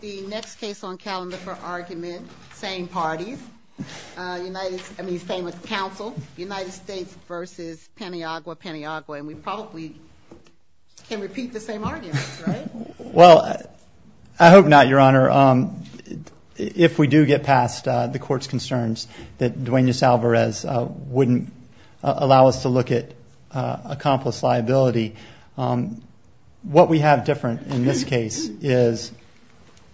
The next case on calendar for argument, same parties, same council, United States v. Paniagua-Paniagua. And we probably can repeat the same arguments, right? Well, I hope not, Your Honor. If we do get past the Court's concerns that Duenas-Alvarez wouldn't allow us to look at accomplice liability, what we have different in this case is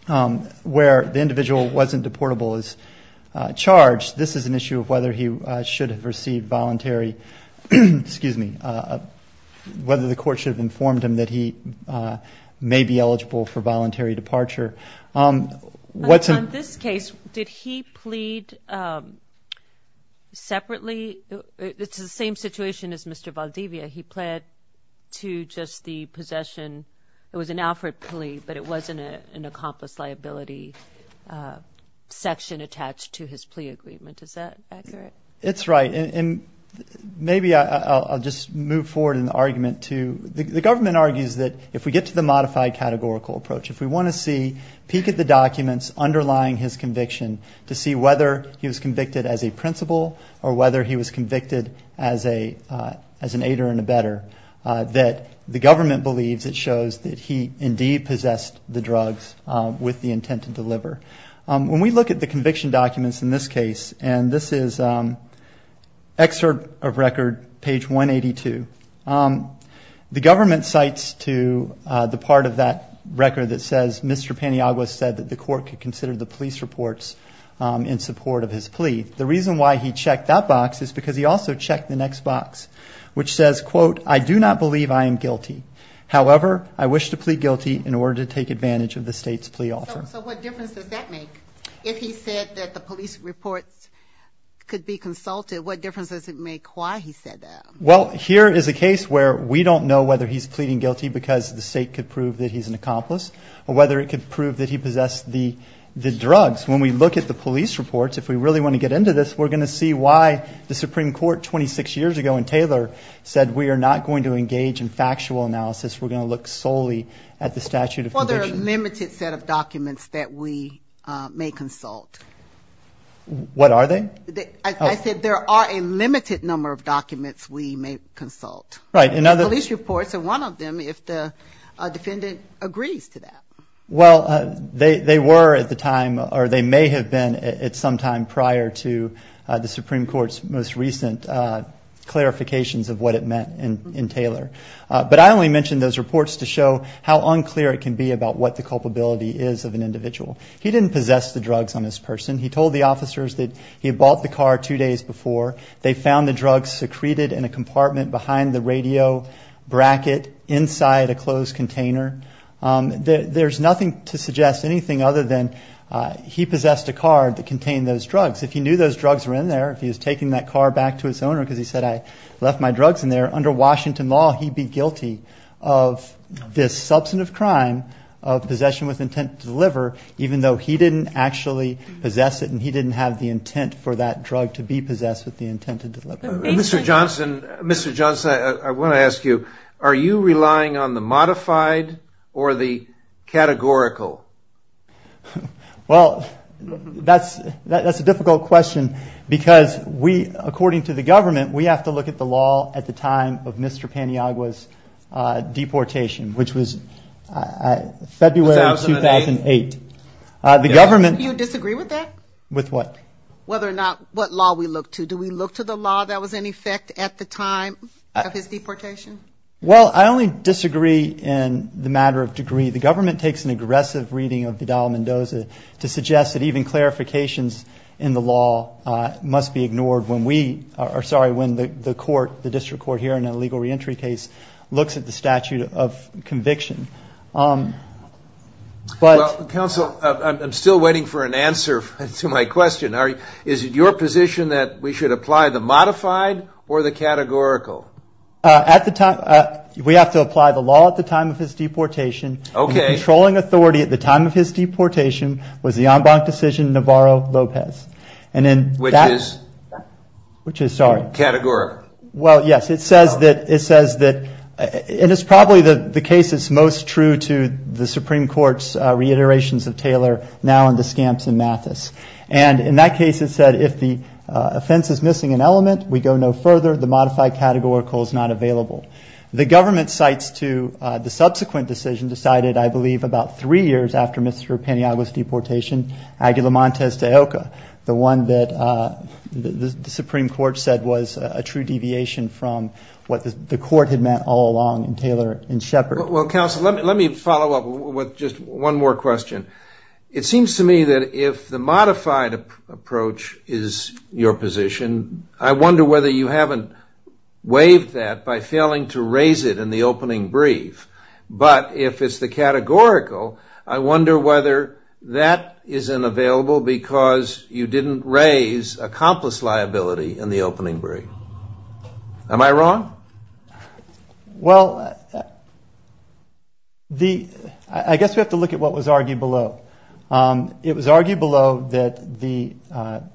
where the individual wasn't deportable as charged, this is an issue of whether he should have received voluntary, excuse me, whether the Court should have informed him that he may be eligible for voluntary departure. On this case, did he plead separately? It's the same situation as Mr. Valdivia. He pled to just the possession. It was an Alfred plea, but it wasn't an accomplice liability section attached to his plea agreement. Is that accurate? It's right. And maybe I'll just move forward in the argument to the government argues that if we get to the modified categorical approach, if we want to see, peek at the documents underlying his conviction to see whether he was convicted as a principal or whether he was convicted as an aider and abetter, that the government believes it shows that he indeed possessed the drugs with the intent to deliver. When we look at the conviction documents in this case, and this is excerpt of record page 182, the government cites to the part of that record that says Mr. Paniagua said that the Court could consider the police reports in support of his plea. The reason why he checked that box is because he also checked the next box, which says, quote, I do not believe I am guilty. However, I wish to plead guilty in order to take advantage of the State's plea offer. So what difference does that make? If he said that the police reports could be consulted, what difference does it make why he said that? Well, here is a case where we don't know whether he's pleading guilty because the State could prove that he's an accomplice or whether it could prove that he possessed the drugs. When we look at the police reports, if we really want to get into this, we're going to see why the Supreme Court 26 years ago in Taylor said we are not going to engage in factual analysis. We're going to look solely at the statute of conditions. Well, there are a limited set of documents that we may consult. What are they? I said there are a limited number of documents we may consult. Right. Police reports are one of them if the defendant agrees to that. Well, they were at the time or they may have been at some time prior to the Supreme Court's most recent clarifications of what it meant in Taylor. But I only mentioned those reports to show how unclear it can be about what the culpability is of an individual. He didn't possess the drugs on this person. He told the officers that he had bought the car two days before. They found the drugs secreted in a compartment behind the radio bracket inside a closed container. There's nothing to suggest anything other than he possessed a car that contained those drugs. If he knew those drugs were in there, if he was taking that car back to its owner because he said, I left my drugs in there, under Washington law, he'd be guilty of this substantive crime of possession with intent to deliver, even though he didn't actually possess it and he didn't have the intent for that drug to be possessed with the intent to deliver. Mr. Johnson, I want to ask you, are you relying on the modified or the categorical? Well, that's a difficult question because we, according to the government, we have to look at the law at the time of Mr. Paniagua's deportation, which was February 2008. Do you disagree with that? With what? Whether or not what law we look to. Do we look to the law that was in effect at the time of his deportation? Well, I only disagree in the matter of degree. The government takes an aggressive reading of Vidal Mendoza to suggest that even clarifications in the law must be ignored when we are sorry, when the court, the district court here in a legal reentry case, looks at the statute of conviction. But counsel, I'm still waiting for an answer to my question. Is it your position that we should apply the modified or the categorical? At the time, we have to apply the law at the time of his deportation. Okay. The controlling authority at the time of his deportation was the en banc decision Navarro-Lopez. Which is? Which is, sorry? Categorical. Well, yes. It says that, and it's probably the case that's most true to the Supreme Court's reiterations of Taylor, now in the scamps in Mathis. And in that case, it said if the offense is missing an element, we go no further. The modified categorical is not available. The government cites to the subsequent decision decided, I believe, about three years after Mr. Paniagua's deportation, Aguilamontes de Oca, the one that the Supreme Court said was a true deviation from what the court had meant all along in Taylor and Shepard. Well, counsel, let me follow up with just one more question. It seems to me that if the modified approach is your position, I wonder whether you haven't waived that by failing to raise it in the opening brief. But if it's the categorical, I wonder whether that isn't available because you didn't raise accomplice liability in the opening brief. Am I wrong? Well, I guess we have to look at what was argued below. It was argued below that the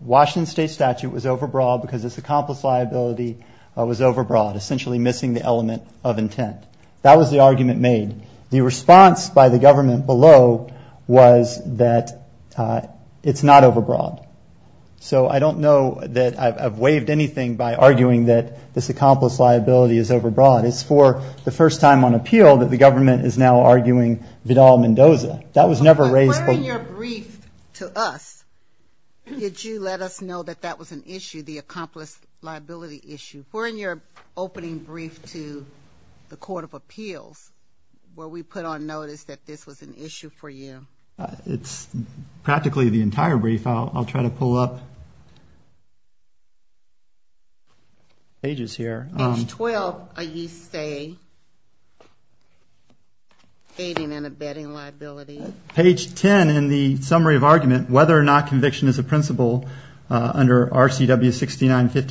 Washington State statute was overbroad because its accomplice liability was overbroad, essentially missing the element of intent. That was the argument made. The response by the government below was that it's not overbroad. So I don't know that I've waived anything by arguing that this accomplice liability is overbroad. It's for the first time on appeal that the government is now arguing Vidal-Mendoza. That was never raised. But were in your brief to us, did you let us know that that was an issue, the accomplice liability issue? Were in your opening brief to the Court of Appeals were we put on notice that this was an issue for you? It's practically the entire brief. I'll try to pull up pages here. Page 12, you say, aiding and abetting liability. Page 10 in the summary of argument, whether or not conviction is a principle under RCW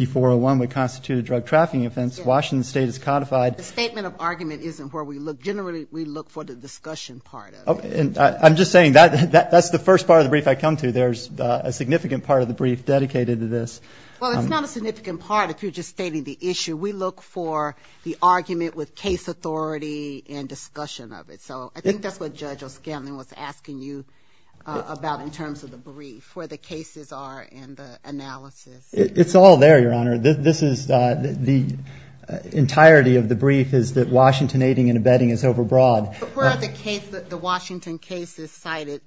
69-5401 would constitute a drug trafficking offense. Washington State is codified. The statement of argument isn't where we look. Generally, we look for the discussion part of it. I'm just saying that's the first part of the brief I come to. There's a significant part of the brief dedicated to this. Well, it's not a significant part if you're just stating the issue. We look for the argument with case authority and discussion of it. So I think that's what Judge O'Scanlan was asking you about in terms of the brief, where the cases are and the analysis. It's all there, Your Honor. This is the entirety of the brief is that Washington aiding and abetting is overbroad. Where are the Washington cases cited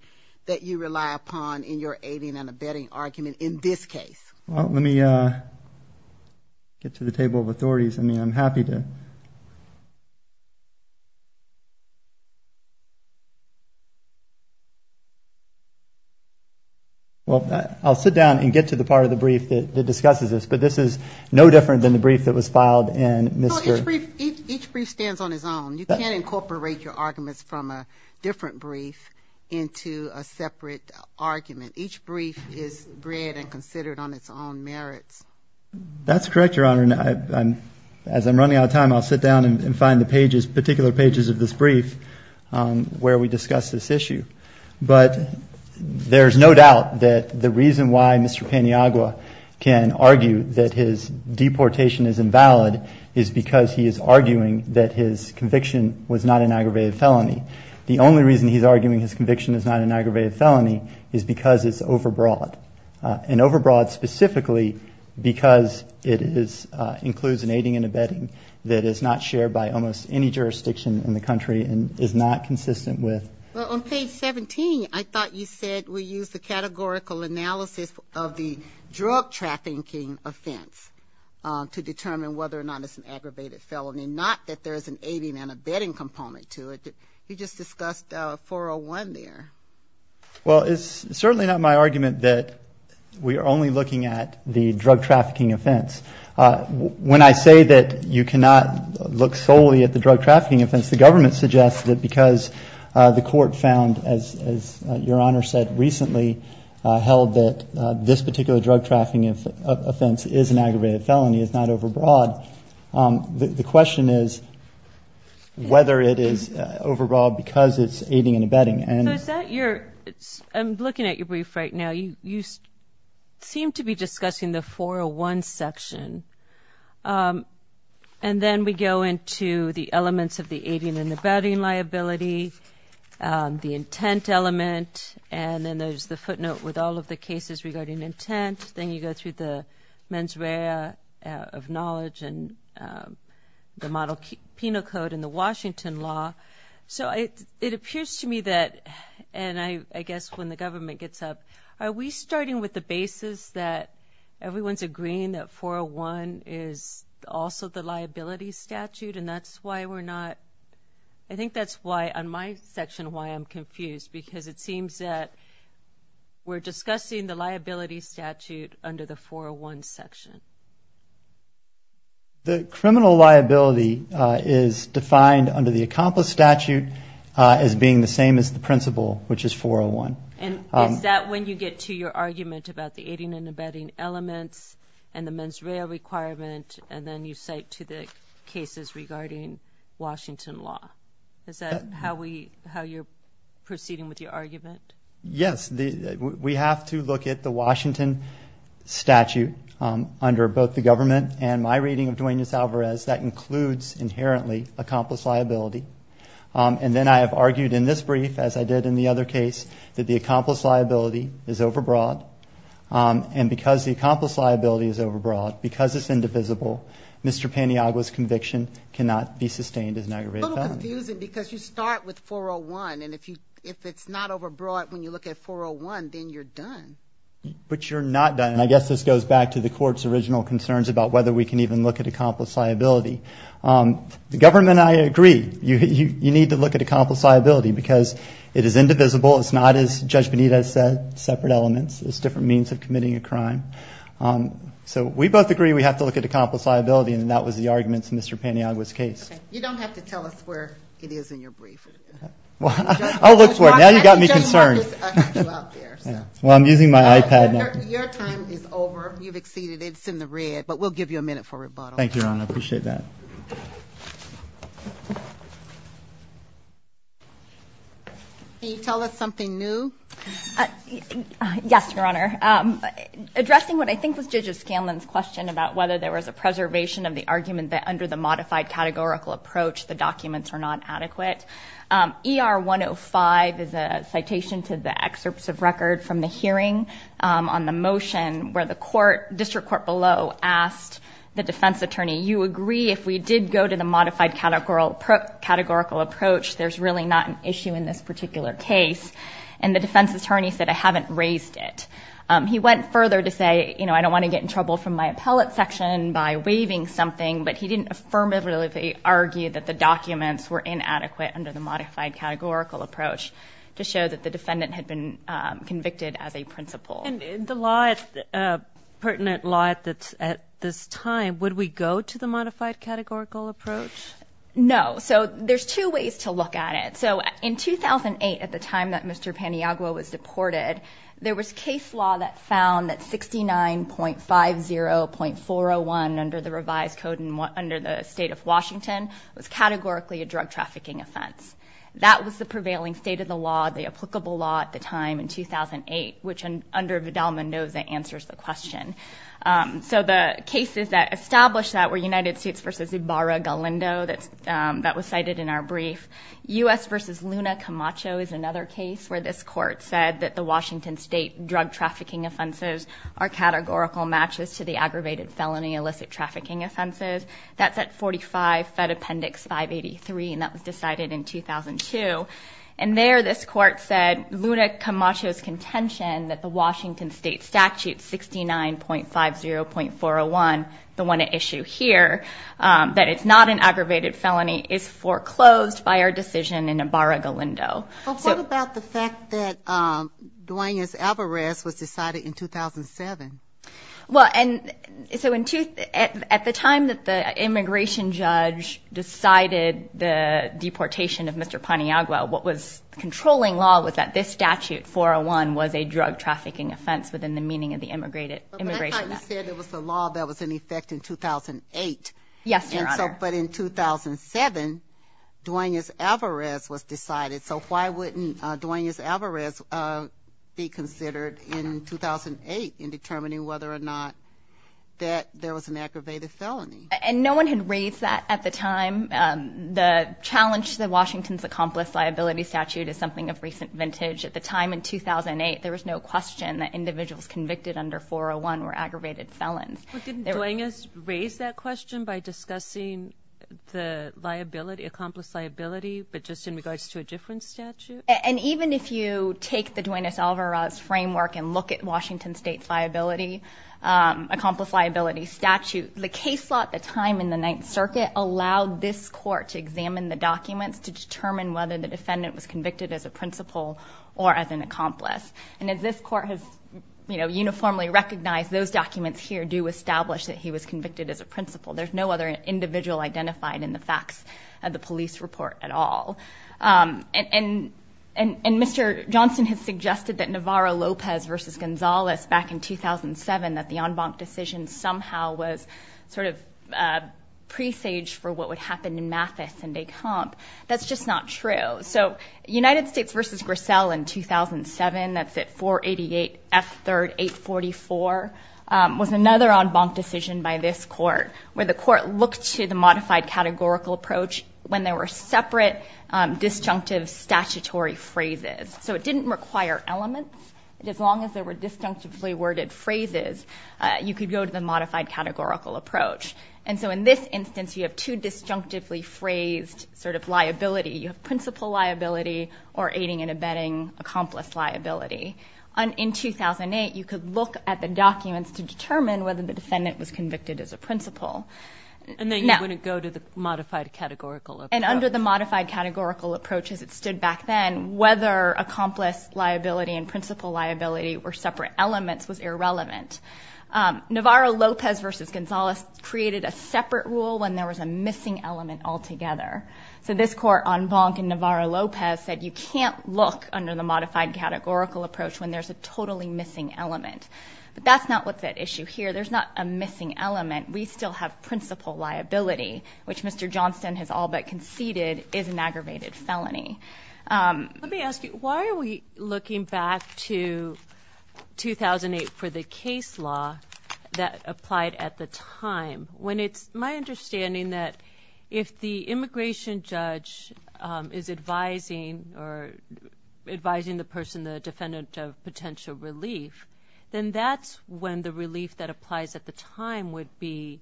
that you rely upon in your aiding and abetting argument in this case? Well, let me get to the table of authorities. I mean, I'm happy to. Well, I'll sit down and get to the part of the brief that discusses this. But this is no different than the brief that was filed in Mr. Each brief stands on its own. You can't incorporate your arguments from a different brief into a separate argument. Each brief is bred and considered on its own merits. That's correct, Your Honor. And as I'm running out of time, I'll sit down and find the pages, particular pages of this brief where we discuss this issue. But there's no doubt that the reason why Mr. Paniagua can argue that his deportation is invalid is because he is arguing that his conviction was not an aggravated felony. The only reason he's arguing his conviction is not an aggravated felony is because it's overbroad. And overbroad specifically because it includes an aiding and abetting that is not shared by almost any jurisdiction in the country and is not consistent with Well, on page 17, I thought you said we use the categorical analysis of the drug trafficking offense to determine whether or not it's an aggravated felony, not that there is an aiding and abetting component to it. You just discussed 401 there. Well, it's certainly not my argument that we are only looking at the drug trafficking offense. When I say that you cannot look solely at the drug trafficking offense, the government suggests that because the court found, as Your Honor said recently, held that this particular drug trafficking offense is an aggravated felony, it's not overbroad. The question is whether it is overbroad because it's aiding and abetting. I'm looking at your brief right now. You seem to be discussing the 401 section. And then we go into the elements of the aiding and abetting liability, the intent element, and then there's the footnote with all of the cases regarding intent. Then you go through the mens rea of knowledge and the model penal code and the Washington law. It appears to me that, and I guess when the government gets up, are we starting with the basis that everyone's agreeing that 401 is also the liability statute? And that's why we're not, I think that's why on my section why I'm confused because it seems that we're discussing the liability statute under the 401 section. The criminal liability is defined under the accomplice statute as being the same as the principle, which is 401. And is that when you get to your argument about the aiding and abetting elements and the mens rea requirement and then you cite to the cases regarding Washington law? Is that how you're proceeding with your argument? Yes. We have to look at the Washington statute under both the government and my reading of Duenas-Alvarez. That includes inherently accomplice liability. And then I have argued in this brief, as I did in the other case, that the accomplice liability is overbroad. And because the accomplice liability is overbroad, because it's indivisible, Mr. Paniagua's conviction cannot be sustained as an aggravated felony. It's a little confusing because you start with 401. And if it's not overbroad when you look at 401, then you're done. But you're not done. And I guess this goes back to the court's original concerns about whether we can even look at accomplice liability. The government and I agree. You need to look at accomplice liability because it is indivisible. It's not as Judge Bonita said, separate elements. It's different means of committing a crime. So we both agree we have to look at accomplice liability. And that was the arguments in Mr. Paniagua's case. Okay. You don't have to tell us where it is in your brief. I'll look for it. Now you've got me concerned. Well, I'm using my iPad now. Your time is over. You've exceeded. It's in the red. But we'll give you a minute for rebuttal. Thank you, Your Honor. I appreciate that. Can you tell us something new? Yes, Your Honor. Addressing what I think was Judge O'Scanlan's question about whether there was a preservation of the argument that under the modified categorical approach, the documents are not adequate. ER 105 is a citation to the excerpts of record from the hearing on the motion where the court, district court below, asked the defense attorney, you agree if we did go to the modified categorical approach, there's really not an issue in this particular case. And the defense attorney said, I haven't raised it. He went further to say, you know, I don't want to get in trouble from my appellate section by waiving something, but he didn't affirmatively argue that the documents were inadequate under the modified categorical approach to show that the defendant had been convicted as a principal. And the law, pertinent law at this time, would we go to the modified categorical approach? No. So there's two ways to look at it. So in 2008, at the time that Mr. Paniagua was deported, there was case law that found that 69.50.401 under the revised code under the state of Washington was categorically a drug trafficking offense. That was the prevailing state of the law, the applicable law at the time in 2008, which under Vidal-Mendoza answers the question. So the cases that established that were United States v. Ibarra-Galindo that was cited in our brief. U.S. v. Luna Camacho is another case where this court said that the Washington State drug trafficking offenses are categorical matches to the aggravated felony illicit trafficking offenses. That's at 45 Fed Appendix 583, and that was decided in 2002. And there this court said Luna Camacho's contention that the Washington State Statute 69.50.401, the one at issue here, that it's not an aggravated felony is foreclosed by our decision in Ibarra-Galindo. But what about the fact that Duane S. Alvarez was decided in 2007? Well, and so at the time that the immigration judge decided the deportation of Mr. Paniagua, what was controlling law was that this statute, 401, was a drug trafficking offense within the meaning of the immigration act. But that time you said there was a law that was in effect in 2008. Yes, Your Honor. But in 2007, Duane S. Alvarez was decided. So why wouldn't Duane S. Alvarez be considered in 2008 in determining whether or not that there was an aggravated felony? And no one had raised that at the time. The challenge to Washington's accomplice liability statute is something of recent vintage. At the time in 2008, there was no question that individuals convicted under 401 were aggravated felons. But didn't Duane S. raise that question by discussing the liability, accomplice liability, but just in regards to a different statute? And even if you take the Duane S. Alvarez framework and look at Washington State's liability, accomplice liability statute, the case law at the time in the Ninth Circuit allowed this court to examine the documents to determine whether the defendant was convicted as a principal or as an accomplice. And as this court has uniformly recognized, those documents here do establish that he was convicted as a principal. There's no other individual identified in the facts of the police report at all. And Mr. Johnson has suggested that Navarro-Lopez v. Gonzalez back in 2007, that the en banc decision somehow was sort of a presage for what would happen in Mathis and de Camp. That's just not true. So United States v. Grissel in 2007, that's at 488 F. 3rd. 844, was another en banc decision by this court where the court looked to the modified categorical approach when there were separate disjunctive statutory phrases. So it didn't require elements. As long as there were disjunctively worded phrases, you could go to the modified categorical approach. And so in this instance, you have two disjunctively phrased sort of liability. You have principal liability or aiding and abetting accomplice liability. In 2008, you could look at the documents to determine whether the defendant was convicted as a principal. And then you wouldn't go to the modified categorical approach. And under the modified categorical approach as it stood back then, whether accomplice liability and principal liability were separate elements was irrelevant. Navarro-Lopez v. Gonzalez created a separate rule when there was a missing element altogether. So this court en banc in Navarro-Lopez said you can't look under the modified categorical approach when there's a totally missing element. But that's not what's at issue here. There's not a missing element. We still have principal liability, which Mr. Johnston has all but conceded is an aggravated felony. Let me ask you, why are we looking back to 2008 for the case law that applied at the time? When it's my understanding that if the immigration judge is advising or advising the person, the defendant, of potential relief, then that's when the relief that applies at the time would be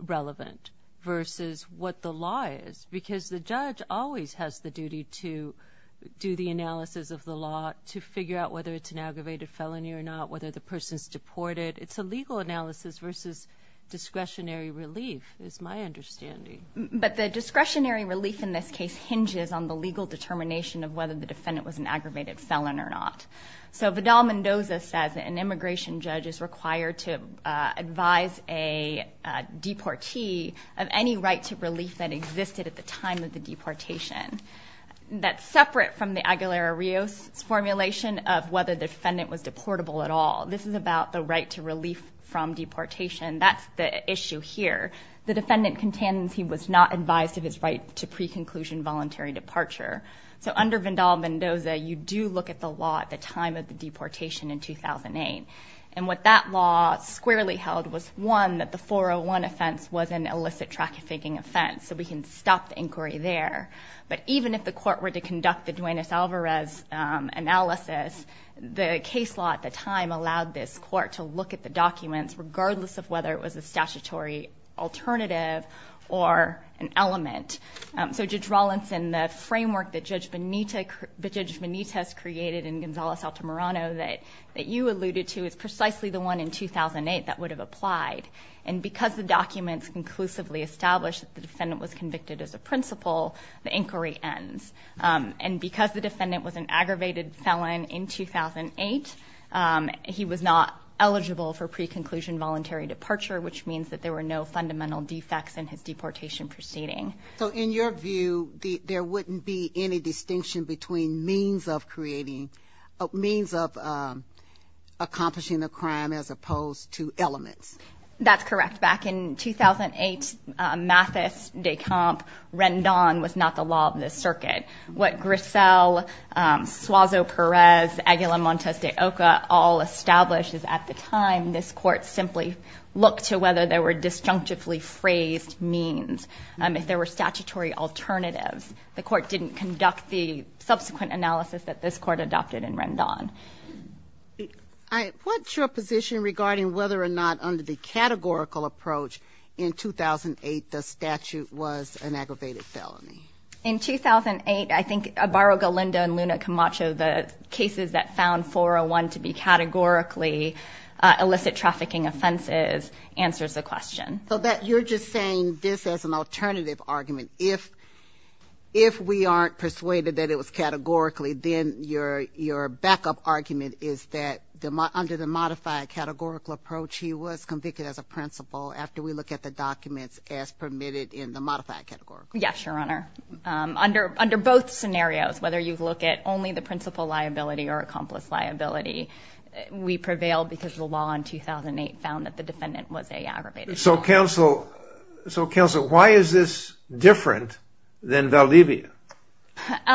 relevant versus what the law is. Because the judge always has the duty to do the analysis of the law, to figure out whether it's an aggravated felony or not, whether the person's deported. It's a legal analysis versus discretionary relief is my understanding. But the discretionary relief in this case hinges on the legal determination of whether the defendant was an aggravated felon or not. So Vidal-Mendoza says an immigration judge is required to advise a deportee of any right to relief that existed at the time of the deportation. That's separate from the Aguilera-Rios formulation of whether the defendant was deportable at all. This is about the right to relief from deportation. That's the issue here. The defendant contends he was not advised of his right to pre-conclusion voluntary departure. So under Vidal-Mendoza, you do look at the law at the time of the deportation in 2008. And what that law squarely held was, one, that the 401 offense was an illicit trafficking offense. So we can stop the inquiry there. But even if the court were to conduct the Duenas-Alvarez analysis, the case law at the time allowed this court to look at the documents regardless of whether it was a statutory alternative or an element. So Judge Rawlinson, the framework that Judge Benitez created in Gonzales-Altamirano that you alluded to is precisely the one in 2008 that would have applied. And because the documents conclusively established that the defendant was convicted as a principal, the inquiry ends. And because the defendant was an aggravated felon in 2008, he was not eligible for pre-conclusion voluntary departure, which means that there were no fundamental defects in his deportation proceeding. So in your view, there wouldn't be any distinction between means of creating, means of accomplishing a crime as opposed to elements? That's correct. Back in 2008, Mathis-DeCamp-Rendon was not the law of the circuit. What Grissel, Suazo-Perez, Aguilar-Montes de Oca all established is at the time, this court simply looked to whether there were disjunctively phrased means, if there were statutory alternatives. The court didn't conduct the subsequent analysis that this court adopted in Rendon. What's your position regarding whether or not under the categorical approach in 2008 the statute was an aggravated felony? In 2008, I think Abaro-Galindo and Luna Camacho, the cases that found 401 to be categorically illicit trafficking offenses, answers the question. So you're just saying this as an alternative argument. If we aren't persuaded that it was categorically, then your backup argument is that under the modified categorical approach, he was convicted as a principal after we look at the documents as permitted in the modified categorical. Yes, Your Honor. Under both scenarios, whether you look at only the principal liability or accomplice liability, we prevail because the law in 2008 found that the defendant was an aggravated felon. So counsel, why is this different than Valdivia?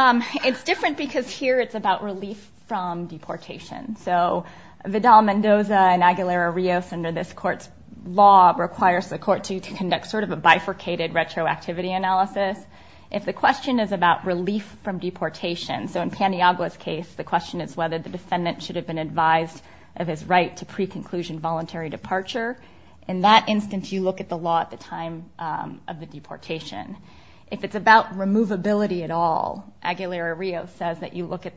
It's different because here it's about relief from deportation. So Vidal-Mendoza and Aguilera-Rios, under this court's law, requires the court to conduct sort of a bifurcated retroactivity analysis. If the question is about relief from deportation, so in Paniagua's case, the question is whether the defendant should have been advised of his right to pre-conclusion voluntary departure. In that instance, you look at the law at the time of the deportation. If it's about removability at all, Aguilera-Rios says that you look at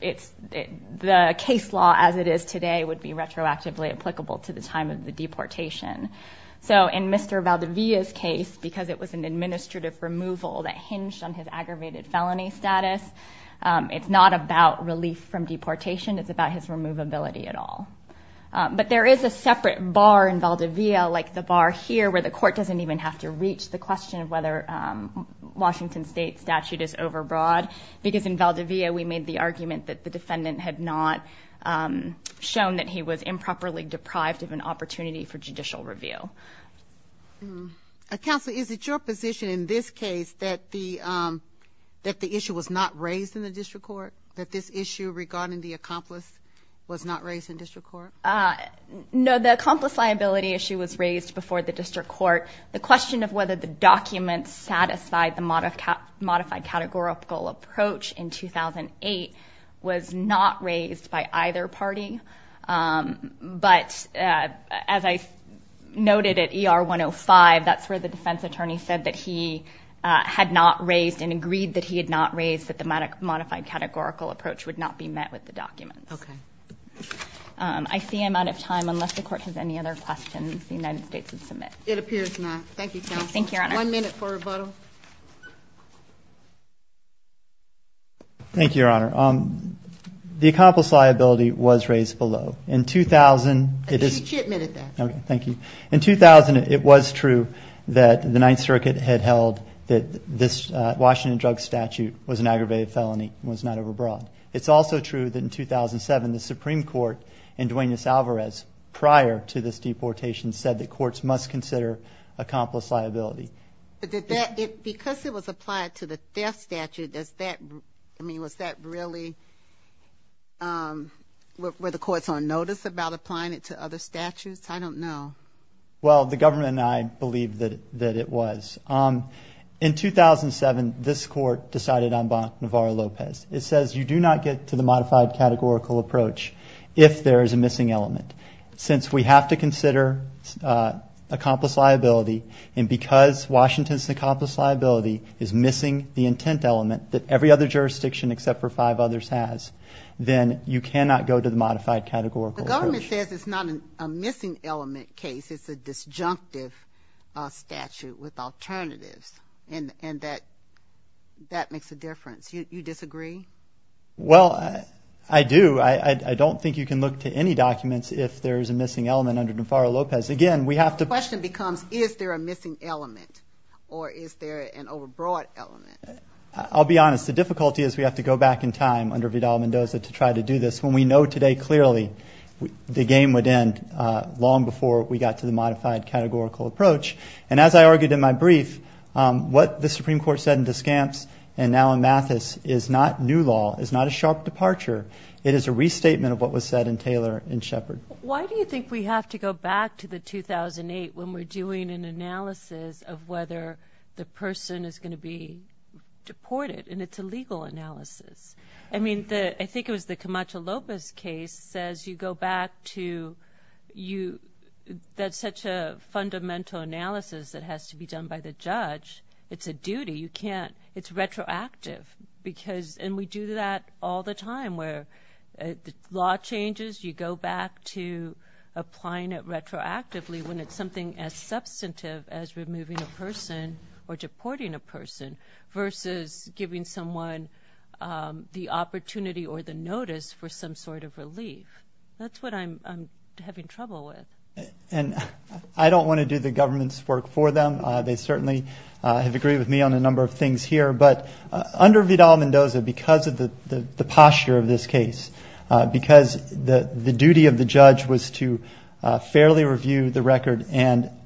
the case law as it is today would be retroactively applicable to the time of the deportation. So in Mr. Valdivia's case, because it was an administrative removal that hinged on his aggravated felony status, it's not about relief from deportation, it's about his removability at all. But there is a separate bar in Valdivia, like the bar here, where the court doesn't even have to reach the question of whether Washington State statute is overbroad, because in Valdivia we made the argument that the defendant had not shown that he was improperly deprived of an opportunity for judicial review. Counsel, is it your position in this case that the issue was not raised in the district court, that this issue regarding the accomplice was not raised in district court? No, the accomplice liability issue was raised before the district court. The question of whether the documents satisfied the modified categorical approach in 2008 was not raised by either party. But as I noted at ER 105, that's where the defense attorney said that he had not raised and agreed that he had not raised that the modified categorical approach would not be met with the documents. Okay. I see I'm out of time. Unless the court has any other questions, the United States would submit. It appears not. Thank you, counsel. Thank you, Your Honor. One minute for rebuttal. Thank you, Your Honor. The accomplice liability was raised below. She admitted that. Okay, thank you. In 2000, it was true that the Ninth Circuit had held that this Washington drug statute was an aggravated felony, was not overbroad. It's also true that in 2007, the Supreme Court in Duenas-Alvarez, prior to this deportation, said that courts must consider accomplice liability. But did that, because it was applied to the death statute, does that, I mean, was that really, were the courts on notice about applying it to other statutes? I don't know. Well, the government and I believe that it was. In 2007, this court decided on Bonnevarra-Lopez. It says you do not get to the modified categorical approach if there is a missing element. Since we have to consider accomplice liability, and because Washington's accomplice liability is missing the intent element that every other jurisdiction except for five others has, then you cannot go to the modified categorical approach. The government says it's not a missing element case. It's a disjunctive statute with alternatives, and that makes a difference. You disagree? Well, I do. I don't think you can look to any documents if there is a missing element under Bonnevarra-Lopez. Again, we have to – The question becomes, is there a missing element, or is there an overbroad element? I'll be honest. The difficulty is we have to go back in time under Vidal-Mendoza to try to do this. When we know today clearly the game would end long before we got to the modified categorical approach. And as I argued in my brief, what the Supreme Court said in Descamps and now in Mathis is not new law. It's not a sharp departure. It is a restatement of what was said in Taylor and Shepard. Why do you think we have to go back to the 2008 when we're doing an analysis of whether the person is going to be deported? And it's a legal analysis. I mean, I think it was the Camacho-Lopez case says you go back to – that's such a fundamental analysis that has to be done by the judge. It's a duty. You can't – it's retroactive. And we do that all the time where the law changes. You go back to applying it retroactively when it's something as substantive as removing a person or deporting a person versus giving someone the opportunity or the notice for some sort of relief. That's what I'm having trouble with. And I don't want to do the government's work for them. They certainly have agreed with me on a number of things here. But under Vidal-Mendoza, because of the posture of this case, because the duty of the judge was to fairly review the record and –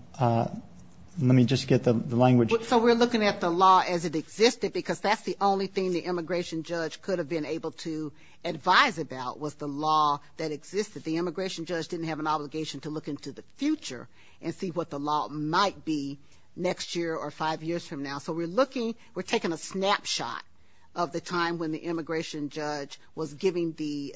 let me just get the language. So we're looking at the law as it existed, because that's the only thing the immigration judge could have been able to advise about was the law that existed. The immigration judge didn't have an obligation to look into the future and see what the law might be next year or five years from now. So we're looking – we're taking a snapshot of the time when the immigration judge was giving the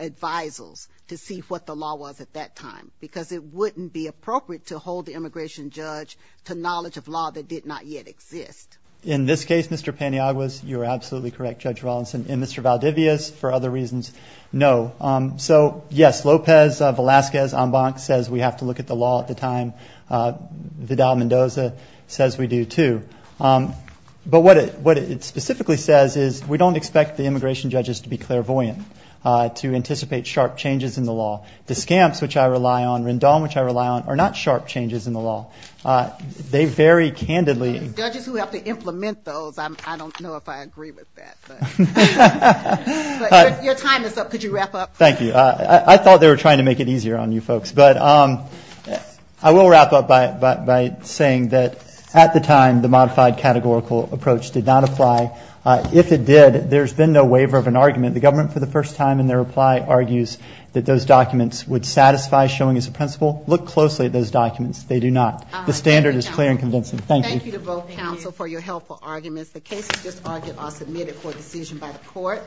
advisals to see what the law was at that time, because it wouldn't be appropriate to hold the immigration judge to knowledge of law that did not yet exist. In this case, Mr. Pantiaguas, you are absolutely correct, Judge Rawlinson. And Mr. Valdivias, for other reasons, no. So, yes, Lopez Velasquez-Ambank says we have to look at the law at the time. Vidal-Mendoza says we do, too. But what it specifically says is we don't expect the immigration judges to be clairvoyant, to anticipate sharp changes in the law. Discamps, which I rely on, Rendon, which I rely on, are not sharp changes in the law. They very candidly – Judges who have to implement those, I don't know if I agree with that. But your time is up. Could you wrap up? Thank you. I thought they were trying to make it easier on you folks. But I will wrap up by saying that at the time, the modified categorical approach did not apply. If it did, there's been no waiver of an argument. The government, for the first time in their reply, argues that those documents would satisfy showing as a principle. Look closely at those documents. They do not. The standard is clear and convincing. Thank you. Thank you to both counsel for your helpful arguments. The cases just argued are submitted for decision by the court.